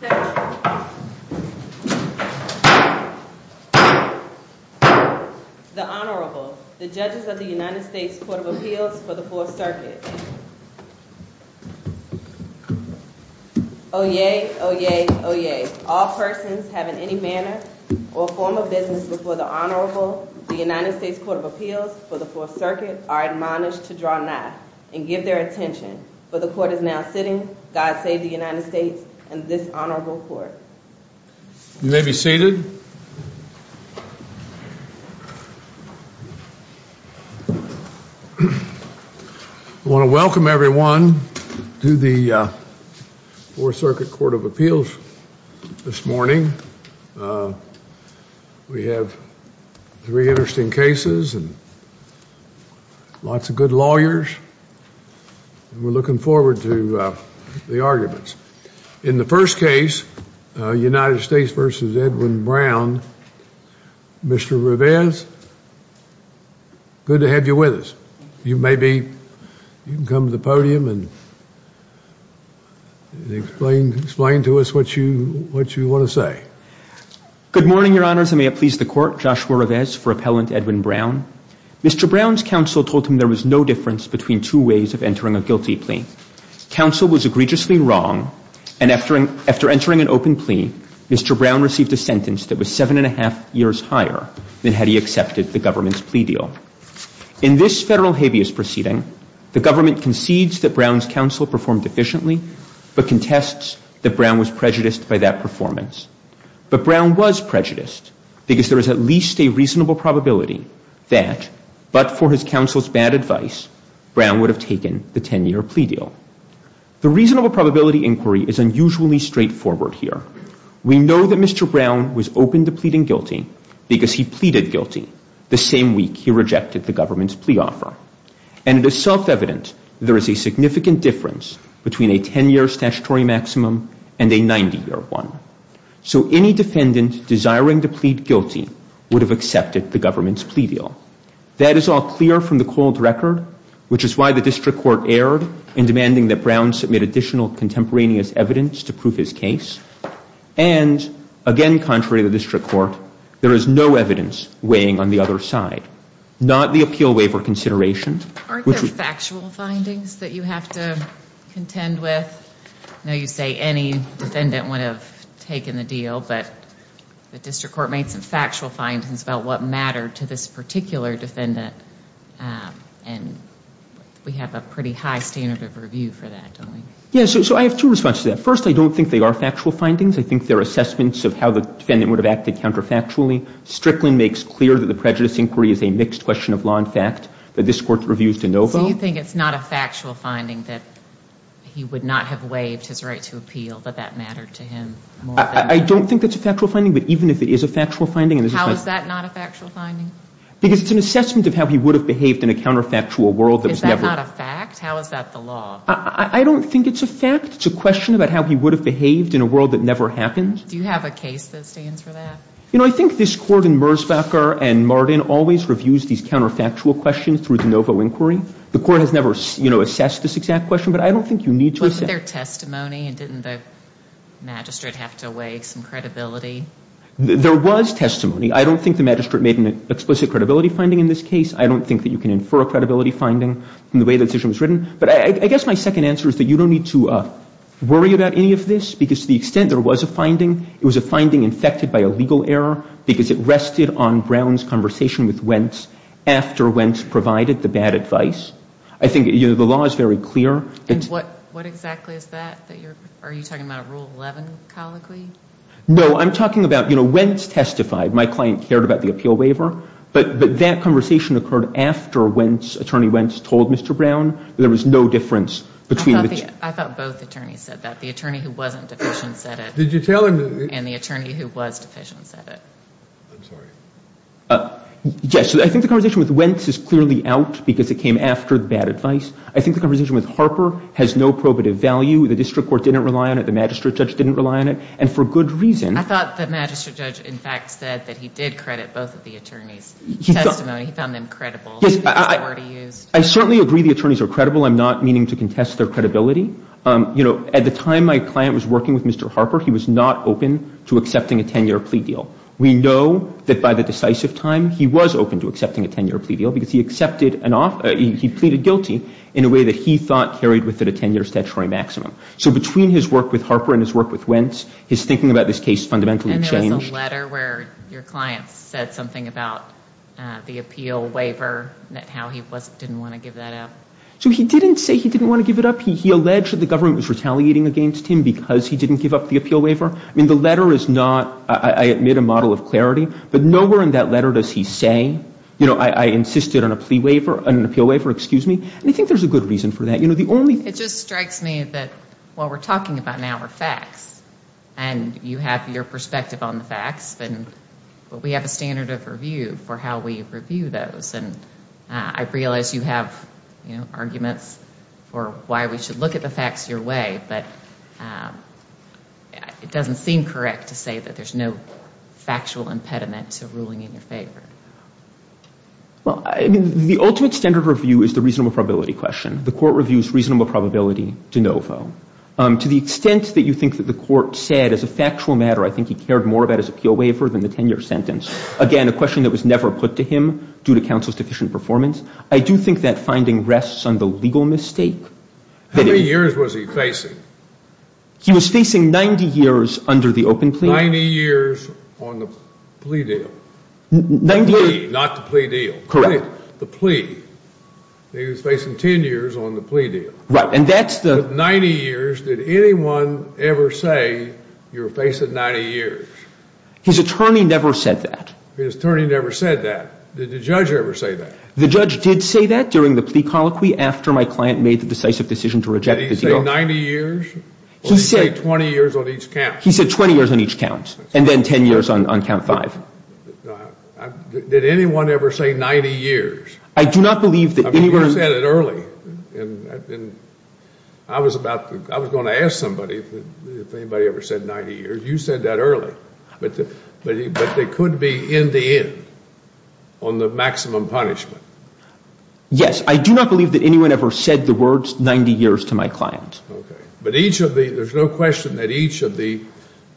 The Honorable, the Judges of the United States Court of Appeals for the Fourth Circuit. Oyez, oyez, oyez. All persons having any manner or form of business before the Honorable, the United States Court of Appeals for the Fourth Circuit, are admonished to draw nigh and give their attention. For the Court is now sitting. God save the United States and this Honorable Court. You may be seated. I want to welcome everyone to the Fourth Circuit Court of Appeals this morning. We have three interesting cases and lots of good lawyers. We're looking forward to the arguments. In the first case, United States v. Edwin Brown, Mr. Revesz, good to have you with us. You may be, you can come to the podium and explain to us what you want to say. Good morning, Your Honors, and may it please the Court, Joshua Revesz for Appellant Edwin Brown. Mr. Brown's counsel told him there was no difference between two ways of entering a guilty plea. Counsel was egregiously wrong and after entering an open plea, Mr. Brown received a sentence that was seven and a half years higher than had he accepted the government's plea deal. In this federal habeas proceeding, the government concedes that Brown's counsel performed efficiently, but contests that Brown was prejudiced by that performance. But Brown was prejudiced because there was at least a reasonable probability that, but for his counsel's bad advice, Brown would have taken the 10-year plea deal. The reasonable probability inquiry is unusually straightforward here. We know that Mr. Brown was open to pleading guilty because he pleaded guilty the same week he rejected the government's plea offer. And it is self-evident there is a significant difference between a 10-year statutory maximum and a 90-year one. So any defendant desiring to plead guilty would have accepted the government's plea deal. That is all clear from the cold record, which is why the district court erred in demanding that Brown submit additional contemporaneous evidence to prove his case. And again, contrary to the district court, there is no evidence weighing on the other side, not the appeal waiver consideration. Aren't there factual findings that you have to contend with? I know you say any defendant would have taken the deal, but the district court made some factual findings about what mattered to this particular defendant. And we have a pretty high standard of review for that, don't we? Yeah, so I have two responses to that. First, I don't think they are factual findings. I think they're assessments of how the defendant would have acted counterfactually. Strickland makes clear that the prejudice inquiry is a mixed question of law and fact, that this court reviews de novo. So you think it's not a factual finding that he would not have waived his right to appeal, that that mattered to him more than the defendant? I don't think that's a factual finding, but even if it is a factual finding and there's a factual finding — How is that not a factual finding? Because it's an assessment of how he would have behaved in a counterfactual world that was never — Is that not a fact? How is that the law? I don't think it's a fact. It's a question about how he would have behaved in a world that never happened. Do you have a case that stands for that? You know, I think this Court in Merzbacher and Martin always reviews these counterfactual questions through de novo inquiry. The Court has never, you know, assessed this exact question, but I don't think you need to assess it. Wasn't there testimony? And didn't the magistrate have to weigh some credibility? There was testimony. I don't think the magistrate made an explicit credibility finding in this case. I don't think that you can infer a credibility finding from the way the decision was written. But I guess my second answer is that you don't need to worry about any of this because to the extent there was a finding, it was a finding infected by a legal error because it rested on Brown's conversation with Wentz after Wentz provided the bad advice. I think, you know, the law is very clear. And what exactly is that? Are you talking about a Rule 11 colloquy? No, I'm talking about, you know, Wentz testified. My client cared about the appeal waiver. But that conversation occurred after Attorney Wentz told Mr. Brown there was no difference between the two. I thought both attorneys said that. The attorney who wasn't deficient said it. Did you tell him? And the attorney who was deficient said it. I'm sorry. Yes. I think the conversation with Wentz is clearly out because it came after the bad advice. I think the conversation with Harper has no probative value. The district court didn't rely on it. The magistrate judge didn't rely on it. And for good reason. I thought the magistrate judge, in fact, said that he did credit both of the attorneys' testimony. He found them credible. Yes. I certainly agree the attorneys are credible. I'm not meaning to contest their credibility. You know, at the time my client was working with Mr. Harper, he was not open to accepting a 10-year plea deal. We know that by the decisive time, he was open to accepting a 10-year plea deal because he accepted and he pleaded guilty in a way that he thought carried within a 10-year statutory maximum. So between his work with Harper and his work with Wentz, his thinking about this case fundamentally changed. And there was a letter where your client said something about the appeal waiver and how he didn't want to give that up. So he didn't say he didn't want to give it up. He alleged that the government was retaliating against him because he didn't give up the appeal waiver. I mean, the letter is not, I admit, a model of clarity. But nowhere in that letter does he say, you know, I insisted on a plea waiver, an appeal waiver, excuse me. And I think there's a good reason for that. You know, the only It just strikes me that what we're talking about now are facts. And you have your perspective on the facts, but we have a standard of review for how we review those. And I realize you have, you know, arguments for why we should look at the facts your way, but it doesn't seem correct to say that there's no factual impediment to ruling in your favor. Well, I mean, the ultimate standard review is the reasonable probability question. The court reviews reasonable probability de novo. To the extent that you think that the court said as a factual matter, I think he cared more about his appeal waiver than the 10-year sentence. Again, a question that was never put to him due to counsel's deficient performance. I do think that finding rests on the legal mistake. How many years was he facing? He was facing 90 years under the open plea. Ninety years on the plea deal. 90 years. The plea, not the plea deal. Correct. Not the plea. He was facing 10 years on the plea deal. Right, and that's the — But 90 years, did anyone ever say you're facing 90 years? His attorney never said that. His attorney never said that. Did the judge ever say that? The judge did say that during the plea colloquy after my client made the decisive decision to reject the deal. Did he say 90 years? He said — Or did he say 20 years on each count? He said 20 years on each count, and then 10 years on count five. Did anyone ever say 90 years? I do not believe that anyone — I mean, you said it early, and I was about to — I was going to ask somebody if anybody ever said 90 years. You said that early. But they could be in the end on the maximum punishment. Yes. I do not believe that anyone ever said the words 90 years to my client. But each of the — there's no question that each of the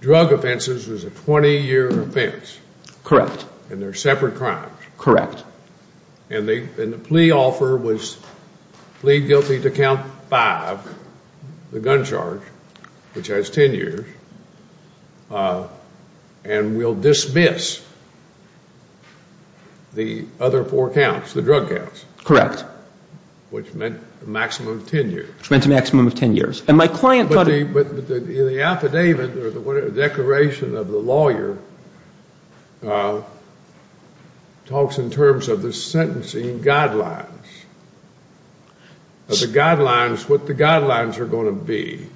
drug offenses was a 20-year offense. Correct. And they're separate crimes. Correct. And the plea offer was plead guilty to count five, the gun charge, which has 10 years, and will dismiss the other four counts, the drug counts. Correct. Which meant a maximum of 10 years. Which meant a maximum of 10 years. And my client thought — But the affidavit or the declaration of the lawyer talks in terms of the sentencing guidelines. The guidelines — what the guidelines are going to be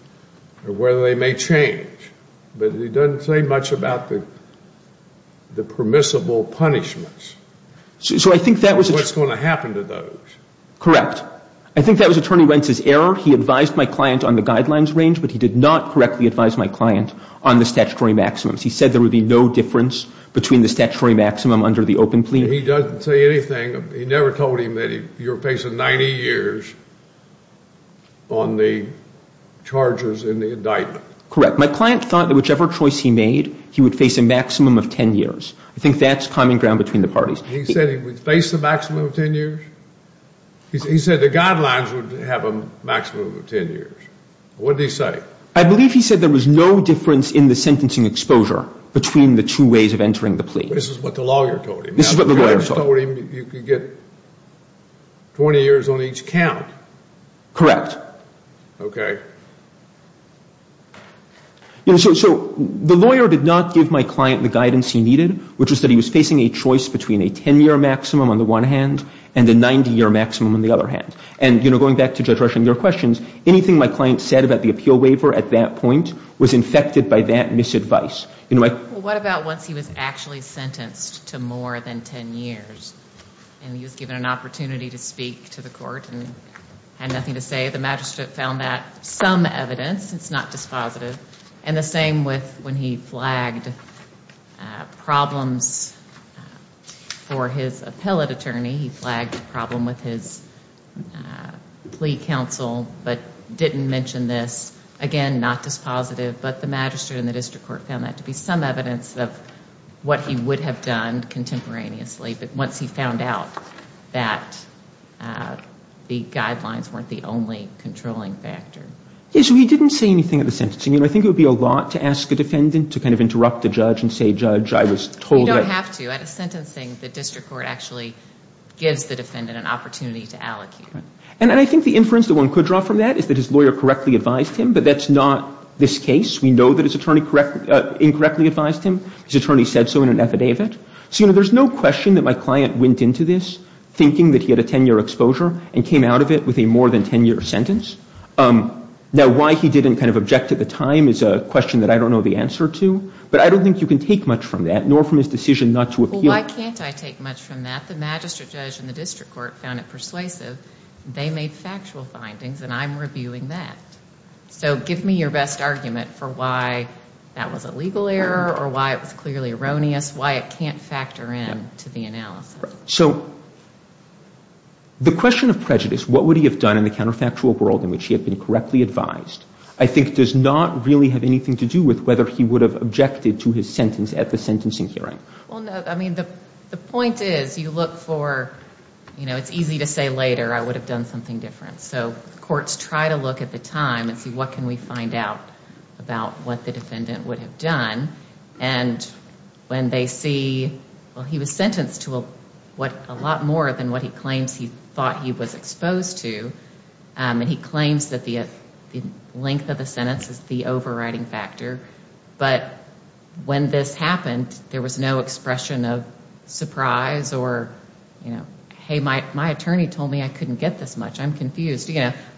or whether they may change. But it doesn't say much about the permissible punishments. So I think that was — What's going to happen to those. Correct. I think that was Attorney Wentz's error. He advised my client on the guidelines range, but he did not correctly advise my client on the statutory maximums. He said there would be no difference between the statutory maximum under the open plea. He doesn't say anything. He never told him that you're facing 90 years on the charges in the indictment. Correct. My client thought that whichever choice he made, he would face a maximum of 10 years. I think that's common ground between the parties. He said he would face the maximum of 10 years? He said the guidelines would have a maximum of 10 years. What did he say? I believe he said there was no difference in the sentencing exposure between the two ways of entering the plea. This is what the lawyer told him. This is what the lawyer told him. The lawyer told him you could get 20 years on each count. Correct. Okay. So the lawyer did not give my client the guidance he needed, which was that he was facing a choice between a 10-year maximum on the one hand and a 90-year maximum on the other hand. And, you know, going back to Judge Rushing, your questions, anything my client said about the appeal waiver at that point was infected by that misadvice. Well, what about once he was actually sentenced to more than 10 years and he was given an opportunity to speak to the court and had nothing to say? I would say the magistrate found that some evidence. It's not dispositive. And the same with when he flagged problems for his appellate attorney. He flagged a problem with his plea counsel but didn't mention this. Again, not dispositive. But the magistrate and the district court found that to be some evidence of what he would have done contemporaneously. But once he found out that the guidelines weren't the only controlling factor. Yes, so he didn't say anything at the sentencing. You know, I think it would be a lot to ask a defendant to kind of interrupt a judge and say, Judge, I was told that. You don't have to. At a sentencing, the district court actually gives the defendant an opportunity to allocate. And I think the inference that one could draw from that is that his lawyer correctly advised him, but that's not this case. We know that his attorney incorrectly advised him. His attorney said so in an affidavit. So, you know, there's no question that my client went into this thinking that he had a 10-year exposure and came out of it with a more than 10-year sentence. Now, why he didn't kind of object at the time is a question that I don't know the answer to. But I don't think you can take much from that, nor from his decision not to appeal. Well, why can't I take much from that? The magistrate judge and the district court found it persuasive. They made factual findings, and I'm reviewing that. So give me your best argument for why that was a legal error or why it was clearly erroneous, why it can't factor in to the analysis. So the question of prejudice, what would he have done in the counterfactual world in which he had been correctly advised, I think does not really have anything to do with whether he would have objected to his sentence at the sentencing hearing. Well, no, I mean, the point is you look for, you know, it's easy to say later, I would have done something different. So courts try to look at the time and see what can we find out about what the defendant would have done. And when they see, well, he was sentenced to a lot more than what he claims he thought he was exposed to, and he claims that the length of the sentence is the overriding factor. But when this happened, there was no expression of surprise or, you know,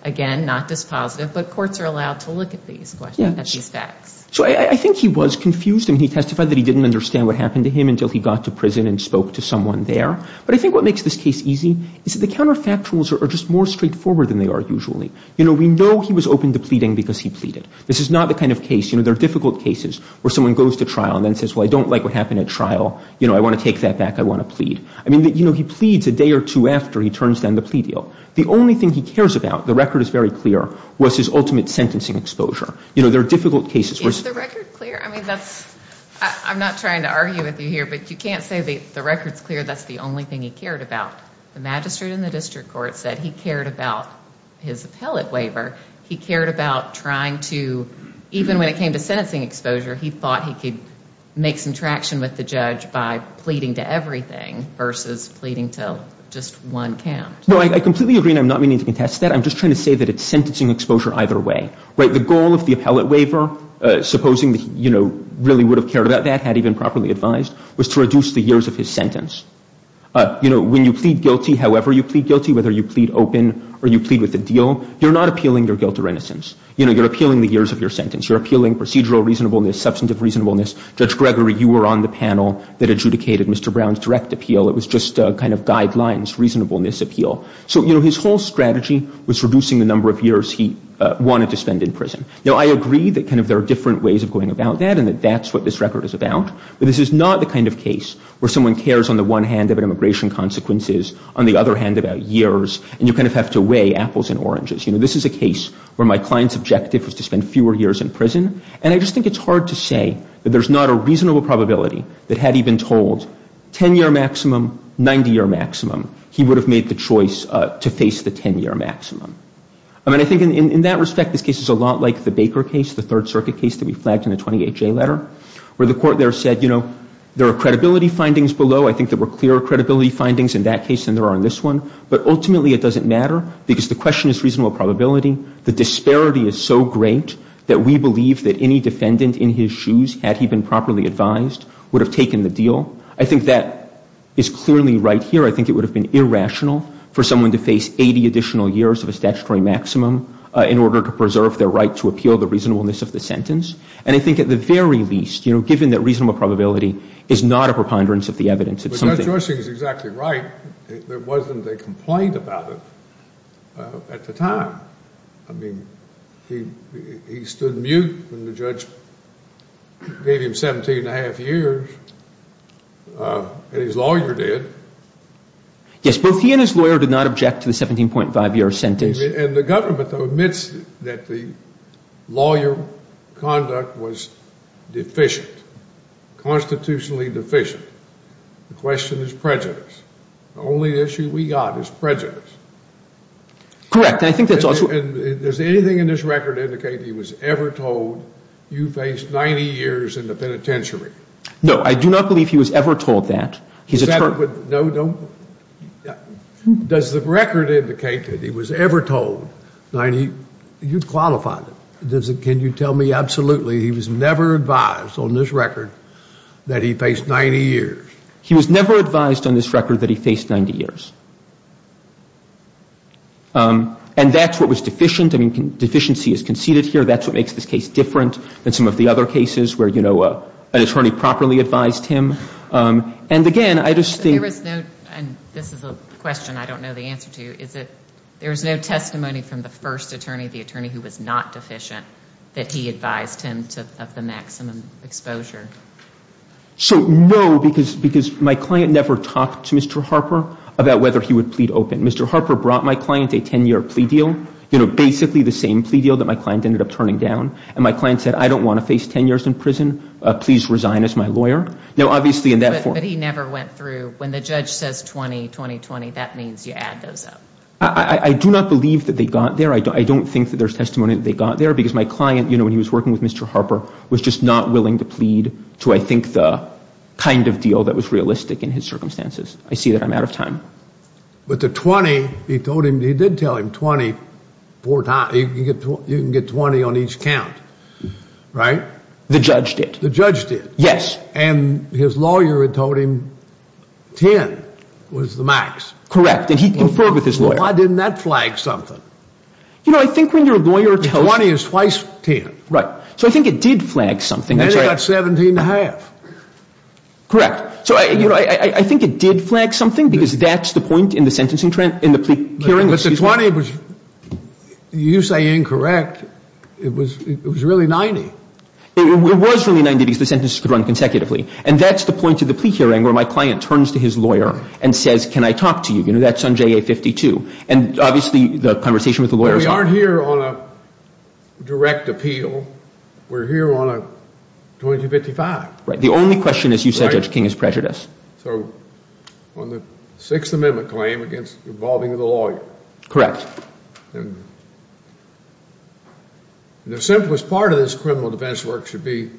again, not dispositive, but courts are allowed to look at these questions, at these facts. So I think he was confused. I mean, he testified that he didn't understand what happened to him until he got to prison and spoke to someone there. But I think what makes this case easy is that the counterfactuals are just more straightforward than they are usually. You know, we know he was open to pleading because he pleaded. This is not the kind of case, you know, there are difficult cases where someone goes to trial and then says, well, I don't like what happened at trial. You know, I want to take that back. I want to plead. I mean, you know, he pleads a day or two after he turns down the plea deal. The only thing he cares about, the record is very clear, was his ultimate sentencing exposure. You know, there are difficult cases. Is the record clear? I mean, that's, I'm not trying to argue with you here, but you can't say the record's clear that's the only thing he cared about. The magistrate in the district court said he cared about his appellate waiver. He cared about trying to, even when it came to sentencing exposure, he thought he could make some traction with the judge by pleading to everything versus pleading to just one count. No, I completely agree, and I'm not meaning to contest that. I'm just trying to say that it's sentencing exposure either way. Right? The goal of the appellate waiver, supposing that he, you know, really would have cared about that, had he been properly advised, was to reduce the years of his sentence. You know, when you plead guilty, however you plead guilty, whether you plead open or you plead with a deal, you're not appealing your guilt or innocence. You know, you're appealing the years of your sentence. You're appealing procedural reasonableness, substantive reasonableness. Judge Gregory, you were on the panel that adjudicated Mr. Brown's direct appeal. It was just kind of guidelines, reasonableness appeal. So, you know, his whole strategy was reducing the number of years he wanted to spend in prison. Now, I agree that kind of there are different ways of going about that and that that's what this record is about, but this is not the kind of case where someone cares on the one hand about immigration consequences, on the other hand about years, and you kind of have to weigh apples and oranges. You know, this is a case where my client's objective was to spend fewer years in prison, and I just think it's hard to say that there's not a reasonable probability that had he been told 10-year maximum, 90-year maximum, he would have made the choice to face the 10-year maximum. I mean, I think in that respect, this case is a lot like the Baker case, the Third Circuit case that we flagged in the 20HA letter, where the court there said, you know, there are credibility findings below. I think there were clearer credibility findings in that case than there are in this one, but ultimately it doesn't matter because the question is reasonable probability. The disparity is so great that we believe that any defendant in his shoes, had he been properly advised, would have taken the deal. I think that is clearly right here. I think it would have been irrational for someone to face 80 additional years of a statutory maximum in order to preserve their right to appeal the reasonableness of the sentence, and I think at the very least, you know, given that reasonable probability is not a preponderance of the evidence. But Judge Rushing is exactly right. There wasn't a complaint about it at the time. I mean, he stood mute when the judge gave him 17 and a half years, and his lawyer did. Yes, both he and his lawyer did not object to the 17.5-year sentence. And the government admits that the lawyer conduct was deficient, constitutionally deficient. The question is prejudice. The only issue we got is prejudice. Correct, and I think that's also Does anything in this record indicate he was ever told you faced 90 years in the penitentiary? No, I do not believe he was ever told that. Does the record indicate that he was ever told 90? You've qualified it. Can you tell me absolutely he was never advised on this record that he faced 90 years? He was never advised on this record that he faced 90 years. And that's what was deficient. I mean, deficiency is conceded here. That's what makes this case different than some of the other cases where, you know, an attorney properly advised him. And, again, I just think There was no, and this is a question I don't know the answer to, is that there was no testimony from the first attorney, the attorney who was not deficient, that he advised him of the maximum exposure. So, no, because my client never talked to Mr. Harper about whether he would plead open. Mr. Harper brought my client a 10-year plea deal, you know, basically the same plea deal that my client ended up turning down. And my client said, I don't want to face 10 years in prison. Please resign as my lawyer. Now, obviously in that form But he never went through, when the judge says 20, 20, 20, that means you add those up. I do not believe that they got there. I don't think that there's testimony that they got there because my client, you know, when he was working with Mr. Harper, was just not willing to plead to, I think, the kind of deal that was realistic in his circumstances. I see that I'm out of time. But the 20, he told him, he did tell him 20 four times. You can get 20 on each count, right? The judge did. The judge did. Yes. And his lawyer had told him 10 was the max. Correct. And he conferred with his lawyer. Why didn't that flag something? You know, I think when your lawyer tells you 20 is twice 10. Right. So I think it did flag something. And he got 17 and a half. Correct. So, you know, I think it did flag something because that's the point in the sentencing, in the plea hearing. But the 20 was, you say incorrect, it was really 90. It was really 90 because the sentences could run consecutively. And that's the point of the plea hearing where my client turns to his lawyer and says, can I talk to you? You know, that's on JA-52. And obviously the conversation with the lawyer is We're not here on a direct appeal. We're here on a 2255. Right. The only question is you said Judge King is prejudiced. So on the Sixth Amendment claim against involving the lawyer. Correct. The simplest part of this criminal defense work should be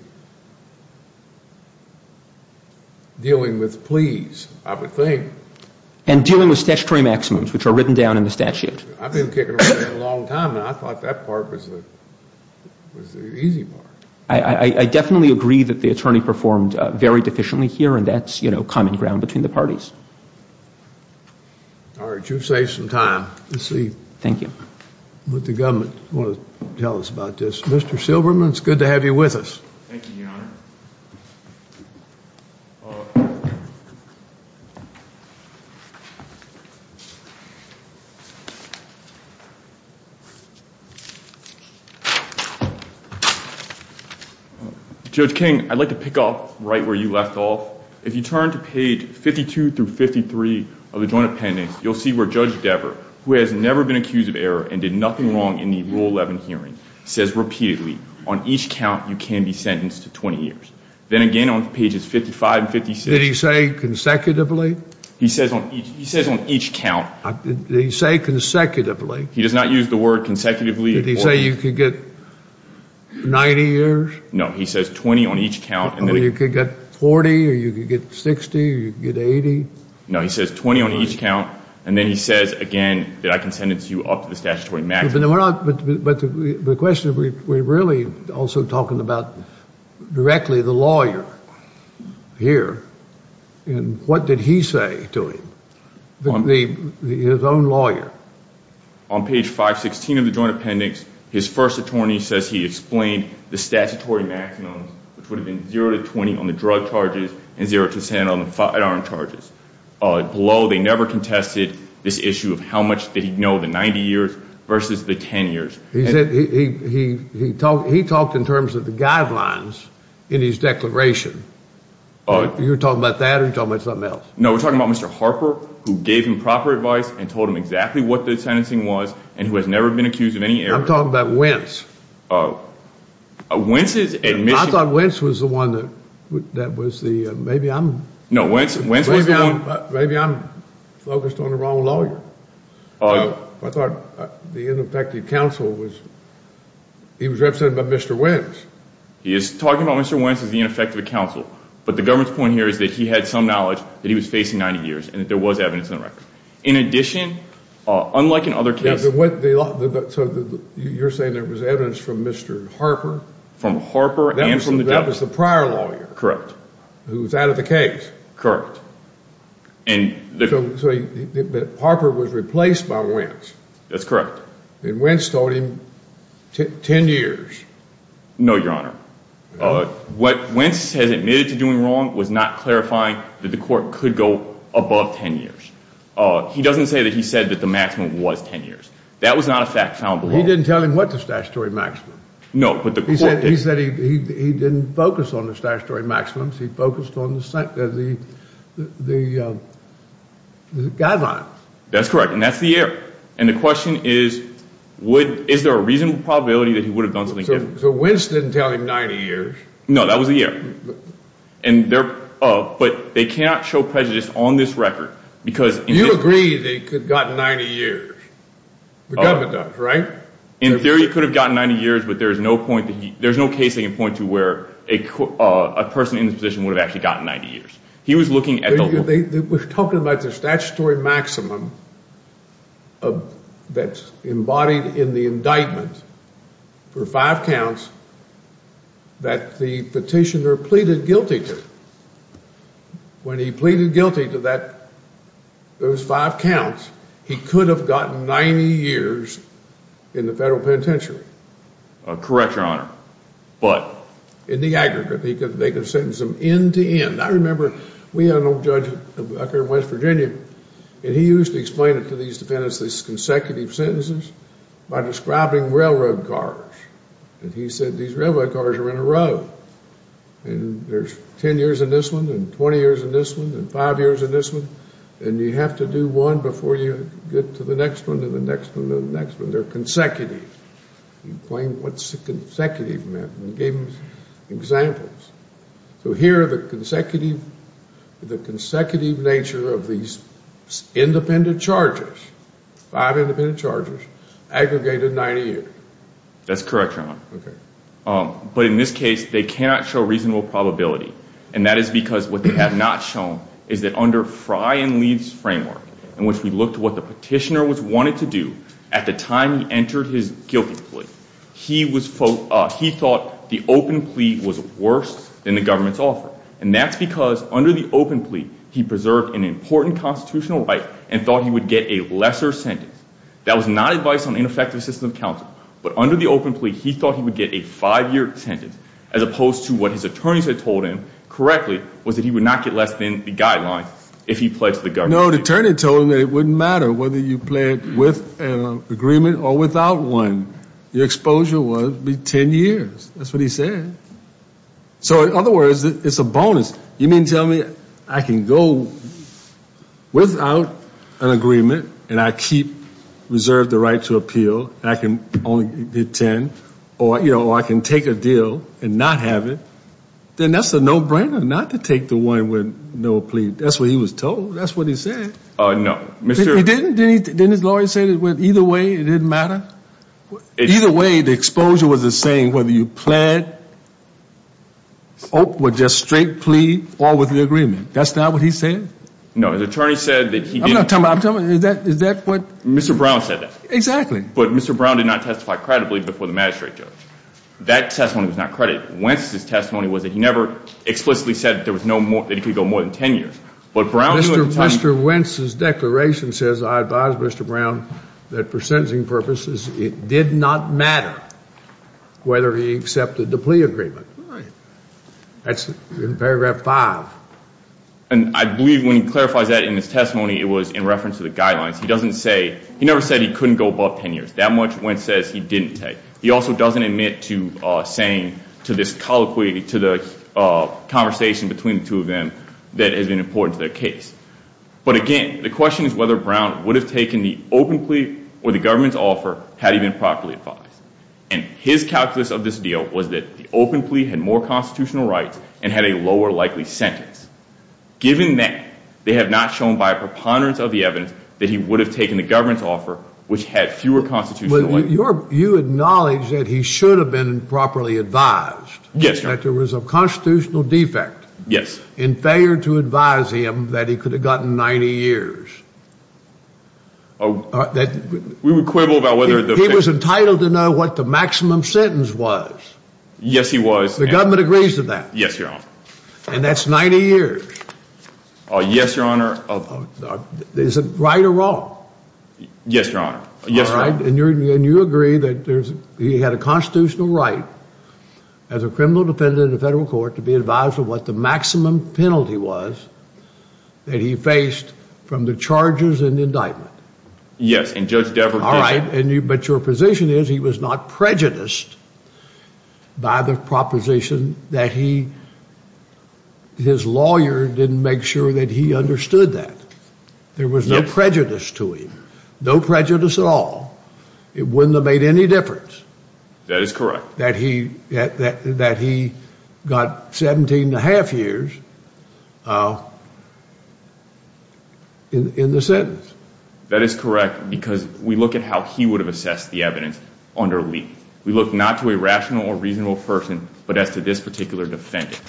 dealing with pleas, I would think. And dealing with statutory maximums, which are written down in the statute. I've been kicking around that a long time now. I thought that part was the easy part. I definitely agree that the attorney performed very deficiently here. And that's, you know, common ground between the parties. All right. You've saved some time. Thank you. Let's see what the government wants to tell us about this. Mr. Silverman, it's good to have you with us. Thank you, Your Honor. Judge King, I'd like to pick up right where you left off. If you turn to page 52 through 53 of the joint appendix, you'll see where Judge Dever, who has never been accused of error and did nothing wrong in the Rule 11 hearing, says repeatedly, on each count you can be sentenced to 20 years. Then again on pages 55 and 56. Did he say consecutively? He says on each count. Did he say consecutively? He does not use the word consecutively. Did he say you could get 90 years? No, he says 20 on each count. You could get 40 or you could get 60 or you could get 80? No, he says 20 on each count. And then he says again that I can sentence you up to the statutory maximum. But the question is we're really also talking about directly the lawyer here. And what did he say to him, his own lawyer? On page 516 of the joint appendix, his first attorney says he explained the statutory maximum, which would have been zero to 20 on the drug charges and zero to 10 on the firearm charges. Below, they never contested this issue of how much did he know, the 90 years versus the 10 years. He said he talked in terms of the guidelines in his declaration. You're talking about that or you're talking about something else? No, we're talking about Mr. Harper who gave him proper advice and told him exactly what the sentencing was and who has never been accused of any error. I'm talking about Wentz. Wentz's admission. I thought Wentz was the one that was the maybe I'm. No, Wentz was the one. Maybe I'm focused on the wrong lawyer. I thought the ineffective counsel was, he was represented by Mr. Wentz. He is talking about Mr. Wentz as the ineffective counsel. But the government's point here is that he had some knowledge that he was facing 90 years and that there was evidence in the record. In addition, unlike in other cases. So you're saying there was evidence from Mr. Harper? From Harper and from the judge. That was the prior lawyer. Correct. Who was out of the case. So Harper was replaced by Wentz. That's correct. And Wentz told him 10 years. No, Your Honor. What Wentz has admitted to doing wrong was not clarifying that the court could go above 10 years. He doesn't say that he said that the maximum was 10 years. That was not a fact found below. He didn't tell him what the statutory maximum. No, but the court did. He said he didn't focus on the statutory maximum. He focused on the guideline. That's correct. And that's the error. And the question is, is there a reasonable probability that he would have done something different? So Wentz didn't tell him 90 years. No, that was the error. But they cannot show prejudice on this record. You agree that he could have gotten 90 years. The government does, right? In theory, he could have gotten 90 years, but there's no case they can point to where a person in this position would have actually gotten 90 years. He was looking at the whole thing. We're talking about the statutory maximum that's embodied in the indictment for five counts that the petitioner pleaded guilty to. When he pleaded guilty to those five counts, he could have gotten 90 years in the federal penitentiary. Correct, Your Honor. But? In the aggregate. They could sentence him end to end. I remember we had an old judge up here in West Virginia, and he used to explain it to these defendants, these consecutive sentences, by describing railroad cars. And he said these railroad cars are in a row. And there's 10 years in this one and 20 years in this one and five years in this one. And you have to do one before you get to the next one and the next one and the next one. They're consecutive. He explained what consecutive meant and gave them examples. So here are the consecutive nature of these independent charges, five independent charges, aggregated 90 years. That's correct, Your Honor. Okay. But in this case, they cannot show reasonable probability. And that is because what they have not shown is that under Frye and Leath's framework, in which we looked at what the petitioner wanted to do at the time he entered his guilty plea, he thought the open plea was worse than the government's offer. And that's because under the open plea, he preserved an important constitutional right and thought he would get a lesser sentence. That was not advice on ineffective system of counsel. But under the open plea, he thought he would get a five-year sentence, as opposed to what his attorneys had told him correctly was that he would not get less than the guidelines if he pledged to the government. No, the attorney told him that it wouldn't matter whether you pledged with an agreement or without one. Your exposure would be 10 years. That's what he said. So in other words, it's a bonus. You mean to tell me I can go without an agreement and I keep reserved the right to appeal and I can only get 10 or, you know, I can take a deal and not have it, then that's a no-brainer not to take the one with no plea. That's what he was told. That's what he said. No. He didn't? Didn't his lawyer say that either way it didn't matter? Either way, the exposure was the same whether you pled or just straight plea or with an agreement. That's not what he said? No. The attorney said that he didn't. I'm not talking about, I'm talking about, is that what? Mr. Brown said that. Exactly. But Mr. Brown did not testify credibly before the magistrate judge. That testimony was not credit. Wentz's testimony was that he never explicitly said that he could go more than 10 years. Mr. Wentz's declaration says, I advise Mr. Brown, that for sentencing purposes, it did not matter whether he accepted the plea agreement. That's in paragraph 5. And I believe when he clarifies that in his testimony, it was in reference to the guidelines. He doesn't say, he never said he couldn't go above 10 years. That much Wentz says he didn't say. He also doesn't admit to saying, to this colloquy, to the conversation between the two of them that has been important to their case. But again, the question is whether Brown would have taken the open plea or the government's offer had he been properly advised. And his calculus of this deal was that the open plea had more constitutional rights and had a lower likely sentence. Given that, they have not shown by a preponderance of the evidence that he would have taken the government's offer, which had fewer constitutional rights. You acknowledge that he should have been properly advised. Yes, Your Honor. That there was a constitutional defect. Yes. In failure to advise him that he could have gotten 90 years. We were quibble about whether the... He was entitled to know what the maximum sentence was. Yes, he was. The government agrees to that. Yes, Your Honor. And that's 90 years. Yes, Your Honor. Is it right or wrong? Yes, Your Honor. All right. And you agree that he had a constitutional right as a criminal defendant in the federal court to be advised of what the maximum penalty was that he faced from the charges and indictment. Yes. And Judge Devereux... But your position is he was not prejudiced by the proposition that he... His lawyer didn't make sure that he understood that. There was no prejudice to him. No prejudice at all. It wouldn't have made any difference. That is correct. That he got 17 and a half years in the sentence. That is correct because we look at how he would have assessed the evidence under Lee. We look not to a rational or reasonable person, but as to this particular defendant.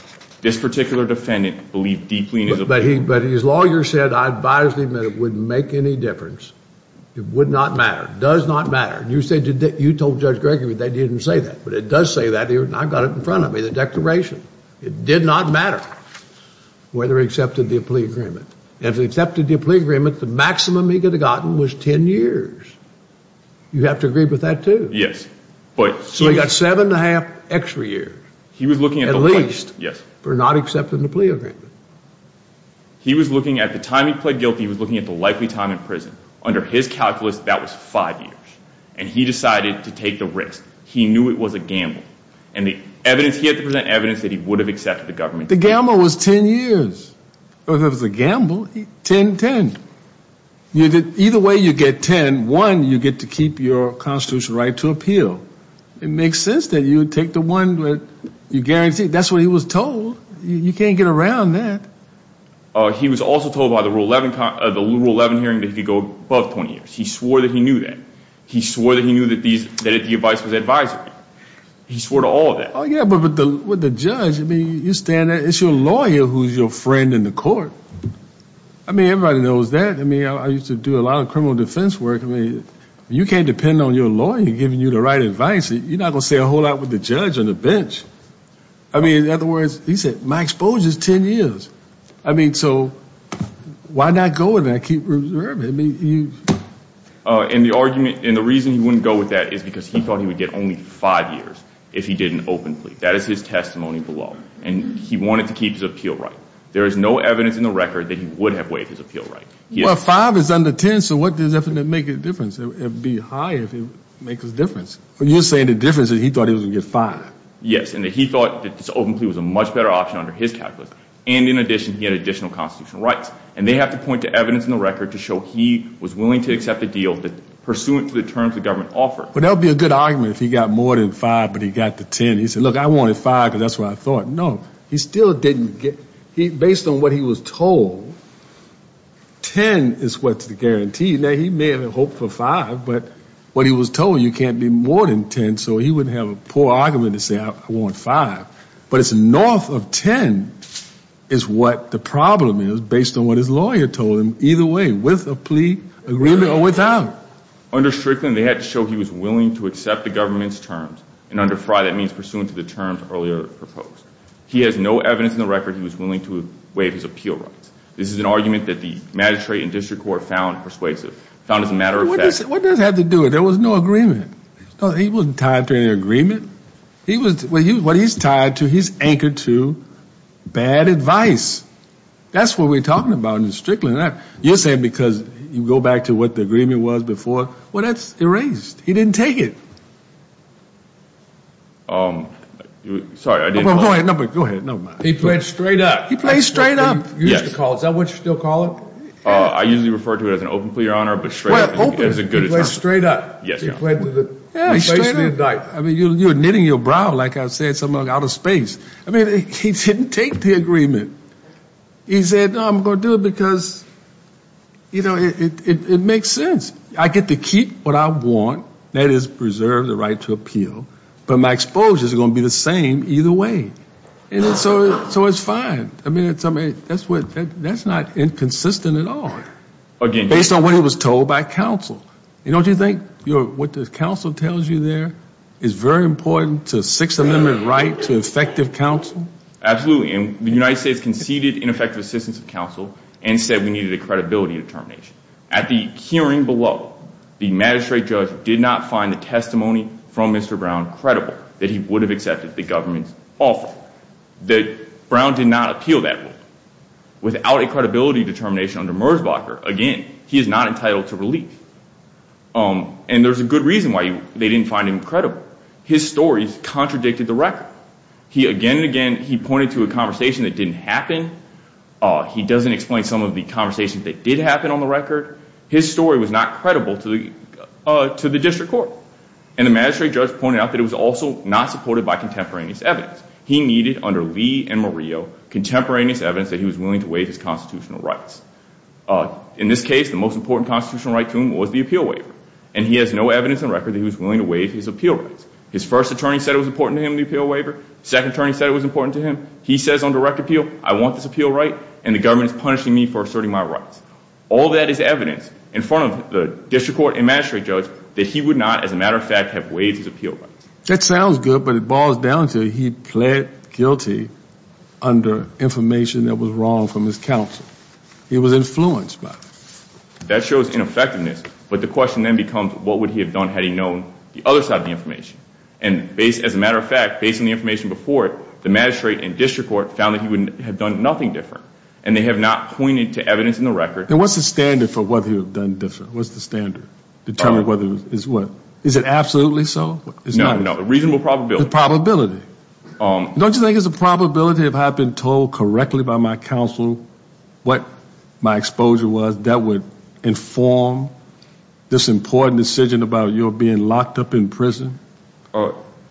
This particular defendant believed deeply in his... But his lawyer said, I advised him that it wouldn't make any difference. It would not matter. It does not matter. You told Judge Gregory that he didn't say that. But it does say that. I've got it in front of me, the declaration. It did not matter whether he accepted the plea agreement. If he accepted the plea agreement, the maximum he could have gotten was 10 years. You have to agree with that too. Yes. So he got seven and a half extra years. At least for not accepting the plea agreement. He was looking at the time he pled guilty, he was looking at the likely time in prison. Under his calculus, that was five years. And he decided to take the risk. He knew it was a gamble. And the evidence, he had to present evidence that he would have accepted the government... The gamble was 10 years. Well, if it was a gamble, 10, 10. Either way you get 10, one, you get to keep your constitutional right to appeal. It makes sense that you would take the one that you guaranteed. That's what he was told. You can't get around that. He was also told by the Rule 11 hearing that he could go above 20 years. He swore that he knew that. He swore that he knew that the advice was advisory. He swore to all of that. Oh, yeah, but with the judge, I mean, you stand there, it's your lawyer who's your friend in the court. I mean, everybody knows that. I mean, I used to do a lot of criminal defense work. I mean, you can't depend on your lawyer giving you the right advice. You're not going to stay a whole lot with the judge on the bench. I mean, in other words, he said, my exposure is 10 years. I mean, so why not go with that? Keep observing. And the reason he wouldn't go with that is because he thought he would get only 5 years if he did an open plea. That is his testimony below. And he wanted to keep his appeal right. There is no evidence in the record that he would have waived his appeal right. Well, 5 is under 10, so what does that make a difference? It would be higher if it makes a difference. But you're saying the difference is he thought he was going to get 5. Yes, and that he thought that this open plea was a much better option under his calculus. And in addition, he had additional constitutional rights. And they have to point to evidence in the record to show he was willing to accept a deal pursuant to the terms the government offered. But that would be a good argument if he got more than 5 but he got to 10. He said, look, I wanted 5 because that's what I thought. No, he still didn't get, based on what he was told, 10 is what's the guarantee. Now, he may have hoped for 5, but what he was told, you can't be more than 10. So he wouldn't have a poor argument to say, I want 5. But it's north of 10 is what the problem is, based on what his lawyer told him. Either way, with a plea agreement or without. Under Strickland, they had to show he was willing to accept the government's terms. And under Fry, that means pursuant to the terms earlier proposed. He has no evidence in the record he was willing to waive his appeal rights. This is an argument that the magistrate and district court found persuasive, found as a matter of fact. What does that have to do with it? There was no agreement. He wasn't tied to any agreement. What he's tied to, he's anchored to bad advice. That's what we're talking about in Strickland. You're saying because you go back to what the agreement was before. Well, that's erased. He didn't take it. Sorry, I didn't. Go ahead. He played straight up. He played straight up. Is that what you still call it? I usually refer to it as an open plea, Your Honor, but straight up is a good term. He played straight up. Yeah, straight up. I mean, you're knitting your brow, like I said, out of space. I mean, he didn't take the agreement. He said, no, I'm going to do it because, you know, it makes sense. I get to keep what I want. That is preserve the right to appeal. But my exposures are going to be the same either way. And so it's fine. I mean, that's not inconsistent at all. Based on what he was told by counsel. Don't you think what the counsel tells you there is very important to the Sixth Amendment right to effective counsel? Absolutely. And the United States conceded ineffective assistance of counsel and said we needed a credibility determination. At the hearing below, the magistrate judge did not find the testimony from Mr. Brown credible, that he would have accepted the government's offer, that Brown did not appeal that rule. Without a credibility determination under Merzbacher, again, he is not entitled to relief. And there's a good reason why they didn't find him credible. His story contradicted the record. Again and again, he pointed to a conversation that didn't happen. He doesn't explain some of the conversations that did happen on the record. His story was not credible to the district court. And the magistrate judge pointed out that it was also not supported by contemporaneous evidence. He needed, under Lee and Murillo, contemporaneous evidence that he was willing to waive his constitutional rights. In this case, the most important constitutional right to him was the appeal waiver. And he has no evidence on record that he was willing to waive his appeal rights. His first attorney said it was important to him, the appeal waiver. Second attorney said it was important to him. He says on direct appeal, I want this appeal right, and the government is punishing me for asserting my rights. All that is evidence in front of the district court and magistrate judge that he would not, as a matter of fact, have waived his appeal rights. That sounds good, but it boils down to he pled guilty under information that was wrong from his counsel. He was influenced by it. That shows ineffectiveness. But the question then becomes, what would he have done had he known the other side of the information? And as a matter of fact, based on the information before it, the magistrate and district court found that he would have done nothing different. And they have not pointed to evidence in the record. And what's the standard for whether he would have done different? What's the standard to determine whether it is what? Is it absolutely so? No, no. Reasonable probability. Probability. Don't you think it's a probability, if I've been told correctly by my counsel what my exposure was, that would inform this important decision about your being locked up in prison?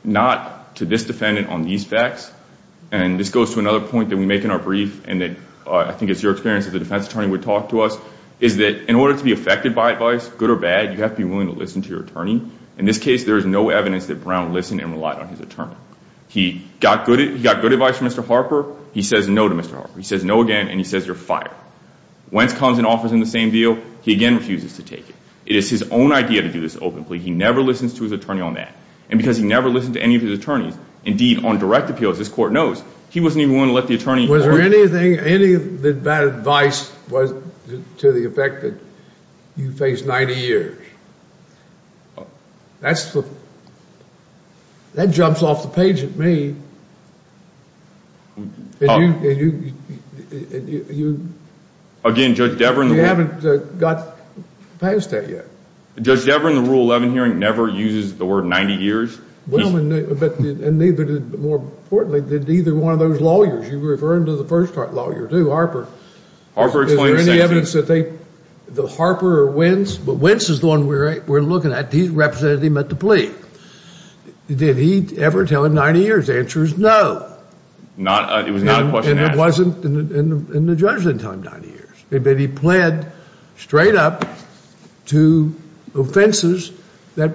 Not to this defendant on these facts. And this goes to another point that we make in our brief, and I think it's your experience that the defense attorney would talk to us, is that in order to be affected by advice, good or bad, you have to be willing to listen to your attorney. In this case, there is no evidence that Brown listened and relied on his attorney. He got good advice from Mr. Harper. He says no to Mr. Harper. He says no again, and he says you're fired. Wentz comes and offers him the same deal. He again refuses to take it. It is his own idea to do this openly. He never listens to his attorney on that. And because he never listened to any of his attorneys, indeed, on direct appeals, this court knows, he wasn't even willing to let the attorney point to it. Is there anything, any bad advice to the effect that you face 90 years? That's the, that jumps off the page at me. And you, and you, and you, and you. Again, Judge Deveren. You haven't got past that yet. Judge Deveren, the Rule 11 hearing never uses the word 90 years. Well, and neither did, more importantly, did either one of those lawyers. You were referring to the first court lawyer, too, Harper. Harper explained the sentence. Is there any evidence that they, that Harper or Wentz, but Wentz is the one we're looking at. He represented him at the plea. Did he ever tell him 90 years? The answer is no. Not, it was not a question asked. And it wasn't, and the judge didn't tell him 90 years. But he pled straight up to offenses that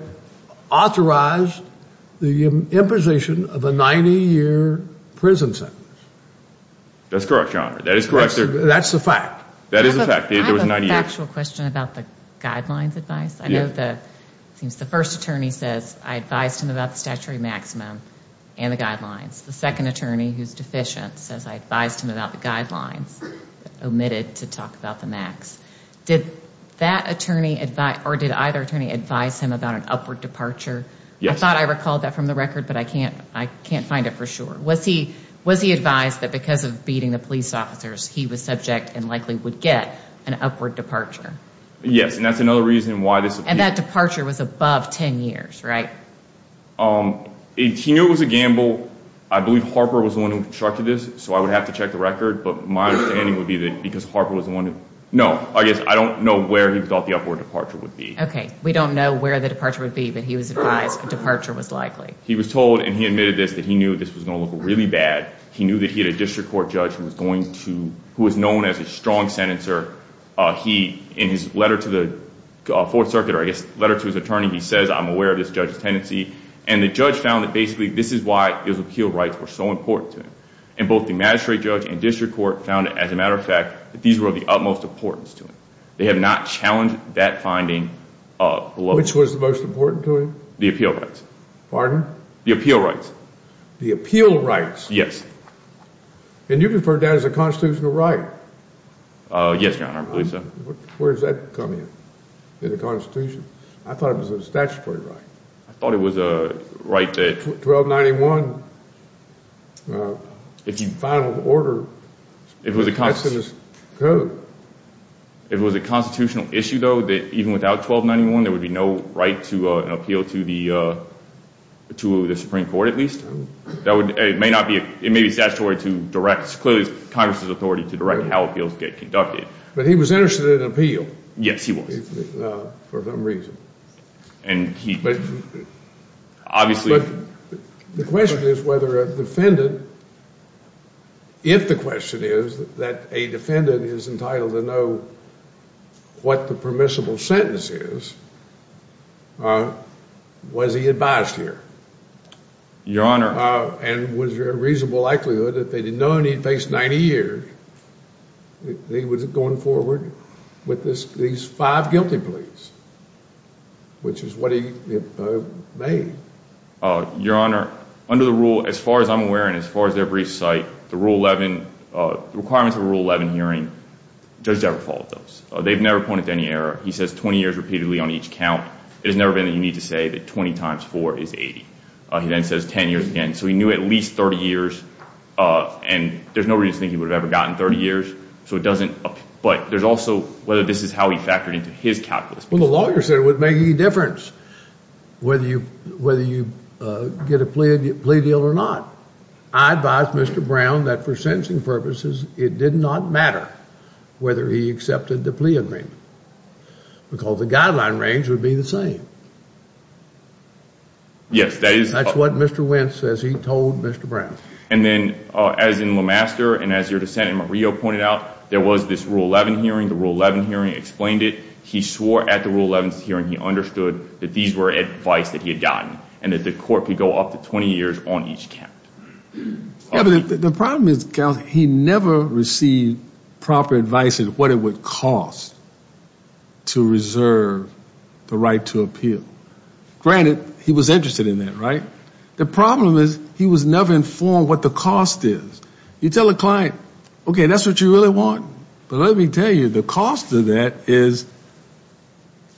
authorized the imposition of a 90-year prison sentence. That's correct, Your Honor. That is correct. That's the fact. That is the fact. I have a factual question about the guidelines advice. I know the, it seems the first attorney says, I advised him about the statutory maximum and the guidelines. The second attorney, who's deficient, says I advised him about the guidelines, omitted to talk about the max. Did that attorney advise, or did either attorney advise him about an upward departure? Yes. I thought I recalled that from the record, but I can't, I can't find it for sure. Was he, was he advised that because of beating the police officers, he was subject and likely would get an upward departure? Yes, and that's another reason why this. And that departure was above 10 years, right? He knew it was a gamble. I believe Harper was the one who constructed this, so I would have to check the record. But my understanding would be that because Harper was the one who, no, I guess I don't know where he thought the upward departure would be. Okay. We don't know where the departure would be, but he was advised departure was likely. He was told, and he admitted this, that he knew this was going to look really bad. He knew that he had a district court judge who was going to, who was known as a strong sentencer. He, in his letter to the Fourth Circuit, or I guess letter to his attorney, he says, I'm aware of this judge's tendency. And the judge found that basically this is why his appeal rights were so important to him. And both the magistrate judge and district court found, as a matter of fact, that these were of the utmost importance to him. They had not challenged that finding below. Which was the most important to him? The appeal rights. Pardon? The appeal rights. The appeal rights? Yes. And you referred to that as a constitutional right? Yes, Your Honor. I believe so. Where does that come in, in the Constitution? I thought it was a statutory right. I thought it was a right that. 1291, if you file an order, that's in this code. If it was a constitutional issue, though, that even without 1291 there would be no right to an appeal to the Supreme Court, at least? It may be statutory to direct, clearly it's Congress's authority to direct how appeals get conducted. But he was interested in an appeal. Yes, he was. For some reason. And he, obviously. The question is whether a defendant, if the question is that a defendant is entitled to know what the permissible sentence is, was he advised here? Your Honor. And was there a reasonable likelihood that they didn't know and he'd face 90 years if he was going forward with these five guilty pleas? Which is what he made. Your Honor, under the rule, as far as I'm aware and as far as they're briefed, the requirements of a Rule 11 hearing, judges never follow those. They've never pointed to any error. He says 20 years repeatedly on each count. It has never been that you need to say that 20 times 4 is 80. He then says 10 years again. So he knew at least 30 years, and there's no reason to think he would have ever gotten 30 years. So it doesn't, but there's also whether this is how he factored into his calculus. Well, the lawyer said it wouldn't make any difference whether you get a plea deal or not. I advised Mr. Brown that for sentencing purposes it did not matter whether he accepted the plea agreement. Because the guideline range would be the same. Yes, that is. That's what Mr. Wentz says he told Mr. Brown. And then as in LeMaster and as your dissent in Murillo pointed out, there was this Rule 11 hearing. The Rule 11 hearing explained it. He swore at the Rule 11 hearing he understood that these were advice that he had gotten and that the court could go up to 20 years on each count. The problem is he never received proper advice in what it would cost to reserve the right to appeal. Granted, he was interested in that, right? The problem is he was never informed what the cost is. You tell a client, okay, that's what you really want, but let me tell you the cost of that is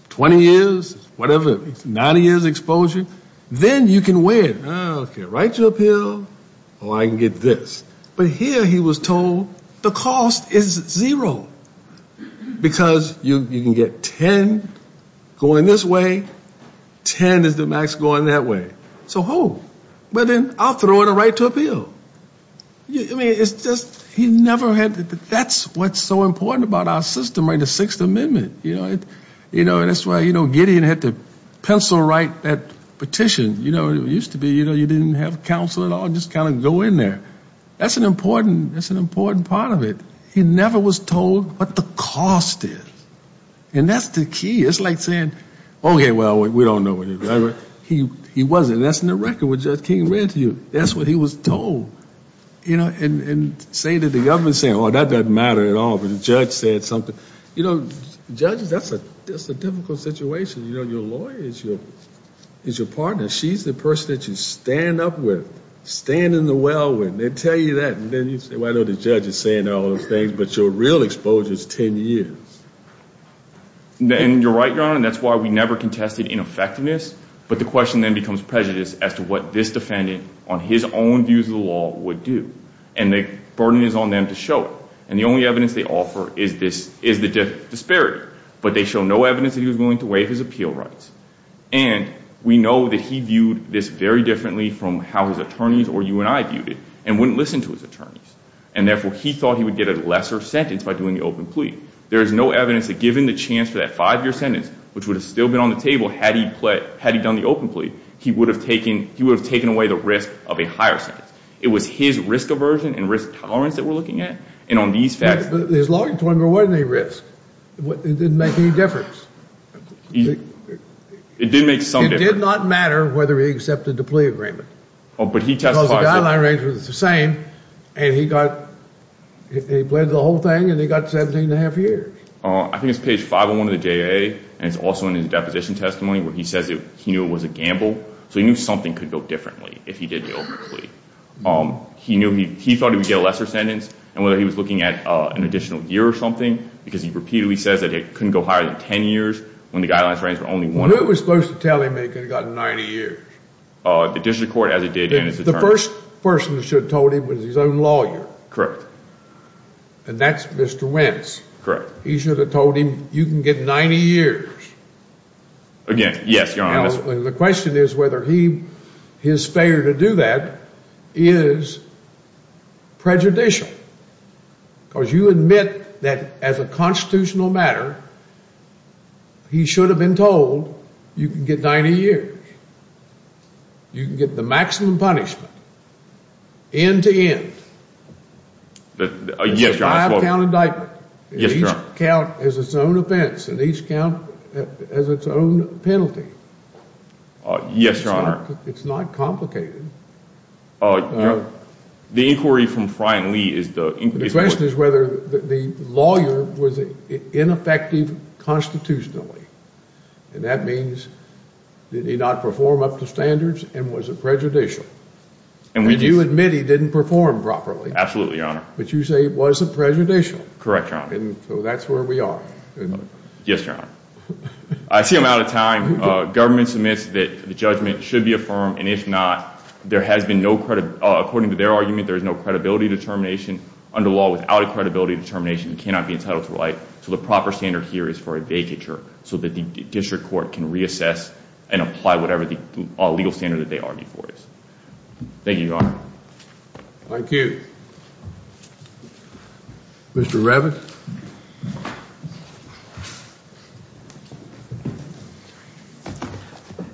20 years, whatever, 90 years exposure. Then you can win. Okay, right to appeal. Oh, I can get this. But here he was told the cost is zero because you can get 10 going this way, 10 is the max going that way. So, oh, well, then I'll throw in a right to appeal. I mean, it's just he never had to. That's what's so important about our system, right, the Sixth Amendment. That's why Gideon had to pencil write that petition. It used to be you didn't have counsel at all, just kind of go in there. That's an important part of it. He never was told what the cost is. And that's the key. It's like saying, okay, well, we don't know what it is. He wasn't. That's in the record what Judge King read to you. That's what he was told. And saying to the government, saying, oh, that doesn't matter at all, but the judge said something. You know, judges, that's a difficult situation. You know, your lawyer is your partner. She's the person that you stand up with, stand in the well with. They tell you that, and then you say, well, I know the judge is saying all those things, but your real exposure is 10 years. And you're right, Your Honor, and that's why we never contested ineffectiveness. But the question then becomes prejudice as to what this defendant on his own views of the law would do. And the burden is on them to show it. And the only evidence they offer is the disparity. But they show no evidence that he was willing to waive his appeal rights. And we know that he viewed this very differently from how his attorneys or you and I viewed it and wouldn't listen to his attorneys. And, therefore, he thought he would get a lesser sentence by doing the open plea. There is no evidence that given the chance for that five-year sentence, which would have still been on the table had he done the open plea, he would have taken away the risk of a higher sentence. It was his risk aversion and risk tolerance that we're looking at, and on these facts. But his lawyer told him there wasn't any risk. It didn't make any difference. It did make some difference. It did not matter whether he accepted the plea agreement. Oh, but he testified. Because the guideline range was the same. And he bled the whole thing, and he got 17 1⁄2 years. I think it's page 501 of the JAA, and it's also in his deposition testimony, where he says he knew it was a gamble. So he knew something could go differently if he did the open plea. He thought he would get a lesser sentence. And whether he was looking at an additional year or something, because he repeatedly says that it couldn't go higher than 10 years when the guidelines range was only one. Who was supposed to tell him it could have gotten 90 years? The district court as it did in its determination. The first person that should have told him was his own lawyer. And that's Mr. Wentz. Correct. He should have told him you can get 90 years. Again, yes, Your Honor. The question is whether his failure to do that is prejudicial. Because you admit that as a constitutional matter, he should have been told you can get 90 years. You can get the maximum punishment end-to-end. Yes, Your Honor. It's a five-count indictment. Yes, Your Honor. And each count has its own offense, and each count has its own penalty. Yes, Your Honor. It's not complicated. The inquiry from Fry and Lee is the inquiry. The question is whether the lawyer was ineffective constitutionally. And that means did he not perform up to standards and was it prejudicial? And you admit he didn't perform properly. Absolutely, Your Honor. But you say it was a prejudicial. Correct, Your Honor. And so that's where we are. Yes, Your Honor. I see I'm out of time. Government submits that the judgment should be affirmed. And if not, according to their argument, there is no credibility determination. Under law, without a credibility determination, you cannot be entitled to a right. So the proper standard here is for a vacature so that the district court can reassess and apply whatever the legal standard that they argue for is. Thank you, Your Honor. Thank you. Mr. Revit.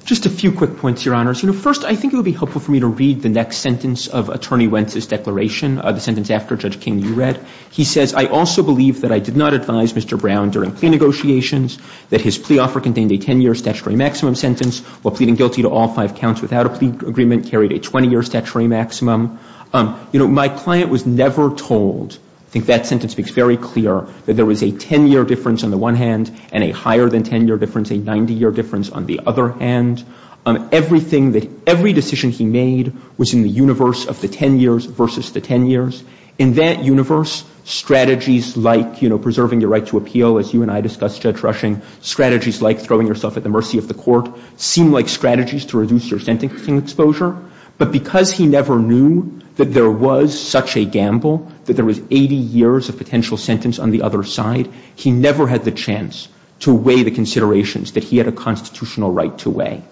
Just a few quick points, Your Honors. First, I think it would be helpful for me to read the next sentence of Attorney Wentz's declaration, the sentence after Judge King you read. He says, I also believe that I did not advise Mr. Brown during plea negotiations that his plea offer contained a 10-year statutory maximum sentence while pleading guilty to all five counts without a plea agreement carried a 20-year statutory maximum. My client was never told, I think that sentence makes very clear, that there was a 10-year difference on the one hand and a higher than 10-year difference, a 90-year difference on the other hand. Everything that, every decision he made was in the universe of the 10 years versus the 10 years. In that universe, strategies like, you know, preserving your right to appeal, as you and I discussed, Judge Rushing, strategies like throwing yourself at the mercy of the court seem like strategies to reduce your sentencing exposure. But because he never knew that there was such a gamble, that there was 80 years of potential sentence on the other side, he never had the chance to weigh the considerations that he had a constitutional right to weigh.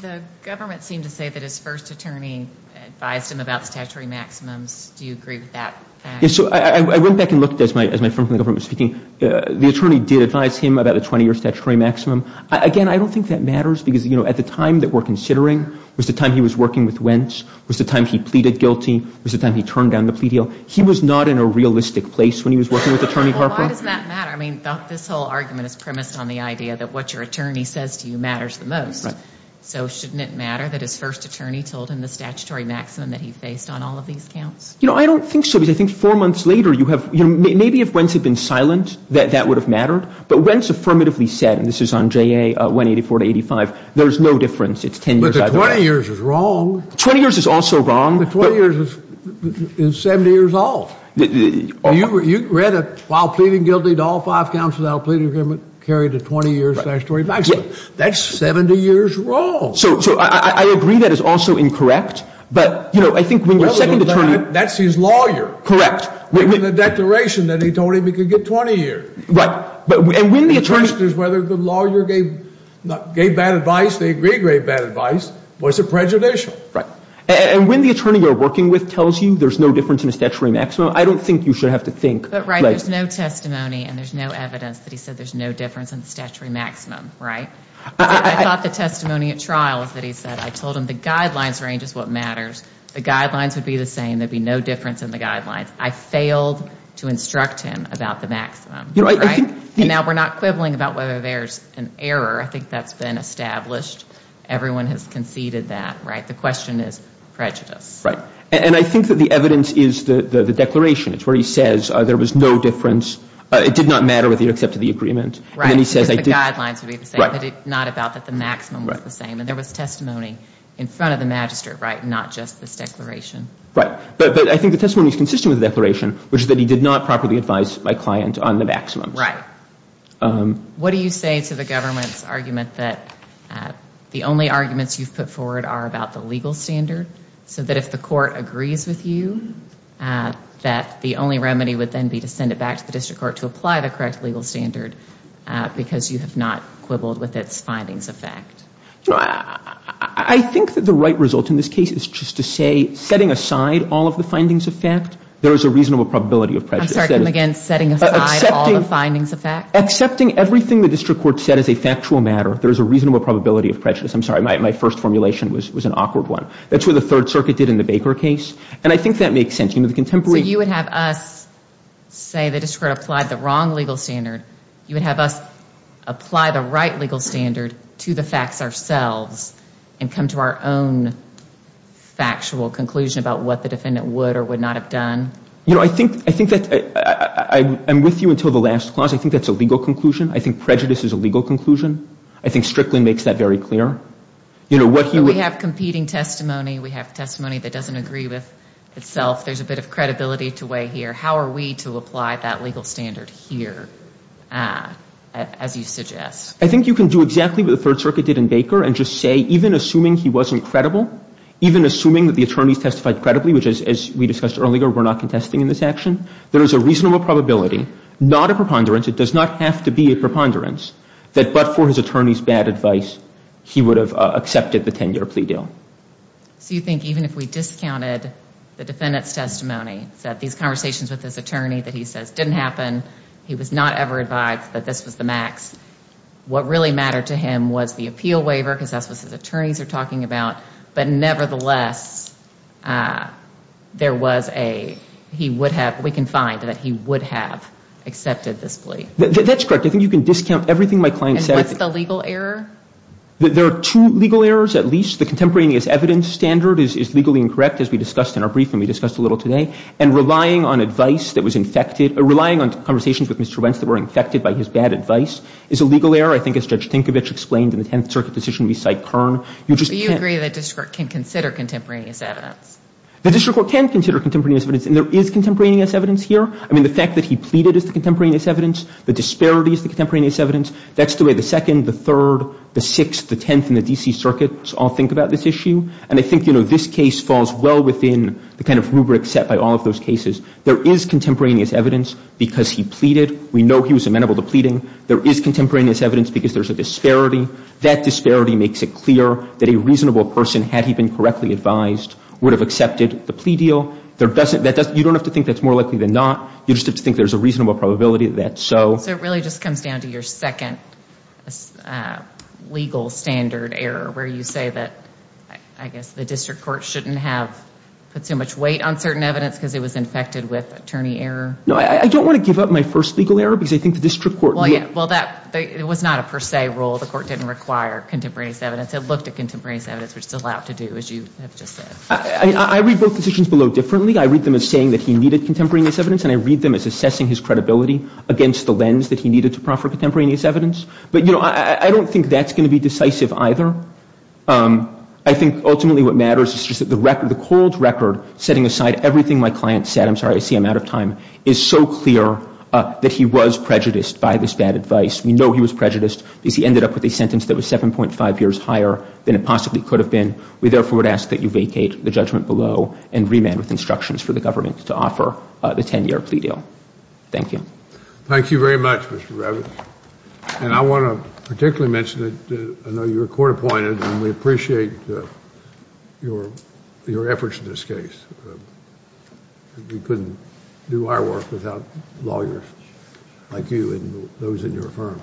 The government seemed to say that his first attorney advised him about statutory maximums. Do you agree with that fact? Yes, so I went back and looked as my friend from the government was speaking. The attorney did advise him about a 20-year statutory maximum. Again, I don't think that matters because, you know, at the time that we're considering was the time he was working with Wentz, was the time he pleaded guilty, was the time he turned down the plea deal. He was not in a realistic place when he was working with Attorney Harper. Why doesn't that matter? I mean, this whole argument is premised on the idea that what your attorney says to you matters the most. Right. So shouldn't it matter that his first attorney told him the statutory maximum that he faced on all of these counts? You know, I don't think so because I think four months later you have, you know, maybe if Wentz had been silent that that would have mattered. But Wentz affirmatively said, and this is on JA 184 to 85, there is no difference, it's 10 years either way. But the 20 years is wrong. The 20 years is also wrong. The 20 years is 70 years off. You read it, while pleading guilty to all five counts without a plea agreement carried a 20-year statutory maximum. That's 70 years wrong. So I agree that it's also incorrect, but, you know, I think when your second attorney. That's his lawyer. Correct. In the declaration that he told him he could get 20 years. Right. And when the attorney. The question is whether the lawyer gave bad advice, they agreed to give bad advice. Was it prejudicial? Right. And when the attorney you're working with tells you there's no difference in a statutory maximum, I don't think you should have to think. There's no testimony and there's no evidence that he said there's no difference in the statutory maximum. Right. I thought the testimony at trial is that he said I told him the guidelines range is what matters. The guidelines would be the same. There'd be no difference in the guidelines. I failed to instruct him about the maximum. Right. And now we're not quibbling about whether there's an error. I think that's been established. Everyone has conceded that. Right. The question is prejudice. Right. And I think that the evidence is the declaration. It's where he says there was no difference. It did not matter whether he accepted the agreement. Right. And he says I did. The guidelines would be the same. Right. Not about that the maximum was the same. And there was testimony in front of the magistrate, right, not just this declaration. Right. But I think the testimony is consistent with the declaration, which is that he did not properly advise my client on the maximum. Right. What do you say to the government's argument that the only arguments you've put forward are about the legal standard, so that if the court agrees with you, that the only remedy would then be to send it back to the district court to apply the correct legal standard because you have not quibbled with its findings of fact? I think that the right result in this case is just to say setting aside all of the findings of fact, there is a reasonable probability of prejudice. I'm sorry. Come again. Setting aside all the findings of fact? Accepting everything the district court said is a factual matter, there is a reasonable probability of prejudice. I'm sorry. My first formulation was an awkward one. That's what the Third Circuit did in the Baker case. And I think that makes sense. You know, the contemporary. So you would have us say the district court applied the wrong legal standard. You would have us apply the right legal standard to the facts ourselves and come to our own factual conclusion about what the defendant would or would not have done? You know, I think that I'm with you until the last clause. I think that's a legal conclusion. I think prejudice is a legal conclusion. I think Strickland makes that very clear. We have competing testimony. We have testimony that doesn't agree with itself. There's a bit of credibility to weigh here. How are we to apply that legal standard here, as you suggest? I think you can do exactly what the Third Circuit did in Baker and just say, even assuming he wasn't credible, even assuming that the attorneys testified credibly, which, as we discussed earlier, we're not contesting in this action, there is a reasonable probability, not a preponderance, it does not have to be a preponderance, that but for his attorney's bad advice, he would have accepted the 10-year plea deal. So you think even if we discounted the defendant's testimony, that these conversations with his attorney that he says didn't happen, he was not ever advised that this was the max, what really mattered to him was the appeal waiver because that's what his attorneys are talking about, but nevertheless, there was a, he would have, we can find that he would have accepted this plea? That's correct. I think you can discount everything my client said. And what's the legal error? There are two legal errors, at least. The contemporaneous evidence standard is legally incorrect, as we discussed in our briefing, we discussed a little today, and relying on advice that was infected, relying on conversations with Mr. Wentz that were infected by his bad advice is a legal error, I think, as Judge Tinkovich explained in the Tenth Circuit decision we cite Kern. You agree the district can consider contemporaneous evidence? The district court can consider contemporaneous evidence, and there is contemporaneous evidence here. I mean, the fact that he pleaded is the contemporaneous evidence. The disparity is the contemporaneous evidence. That's the way the Second, the Third, the Sixth, the Tenth, and the D.C. Circuits all think about this issue. And I think, you know, this case falls well within the kind of rubric set by all of those cases. There is contemporaneous evidence because he pleaded. We know he was amenable to pleading. There is contemporaneous evidence because there's a disparity. That disparity makes it clear that a reasonable person, had he been correctly advised, would have accepted the plea deal. You don't have to think that's more likely than not. You just have to think there's a reasonable probability that so. So it really just comes down to your second legal standard error where you say that, I guess, the district court shouldn't have put so much weight on certain evidence because it was infected with attorney error? No, I don't want to give up my first legal error because I think the district court. Well, that was not a per se rule. The court didn't require contemporaneous evidence. It looked at contemporaneous evidence, which is allowed to do, as you have just said. I read both decisions below differently. I read them as saying that he needed contemporaneous evidence, and I read them as assessing his credibility against the lens that he needed to proffer contemporaneous evidence. But, you know, I don't think that's going to be decisive either. I think ultimately what matters is just that the record, the cold record, setting aside everything my client said, I'm sorry, I see I'm out of time, is so clear that he was prejudiced by this bad advice. We know he was prejudiced because he ended up with a sentence that was 7.5 years higher than it possibly could have been. We therefore would ask that you vacate the judgment below and remand with instructions for the government to offer the 10-year plea deal. Thank you. Thank you very much, Mr. Ravitch. And I want to particularly mention that I know you were court appointed, and we appreciate your efforts in this case. We couldn't do our work without lawyers like you and those in your firm.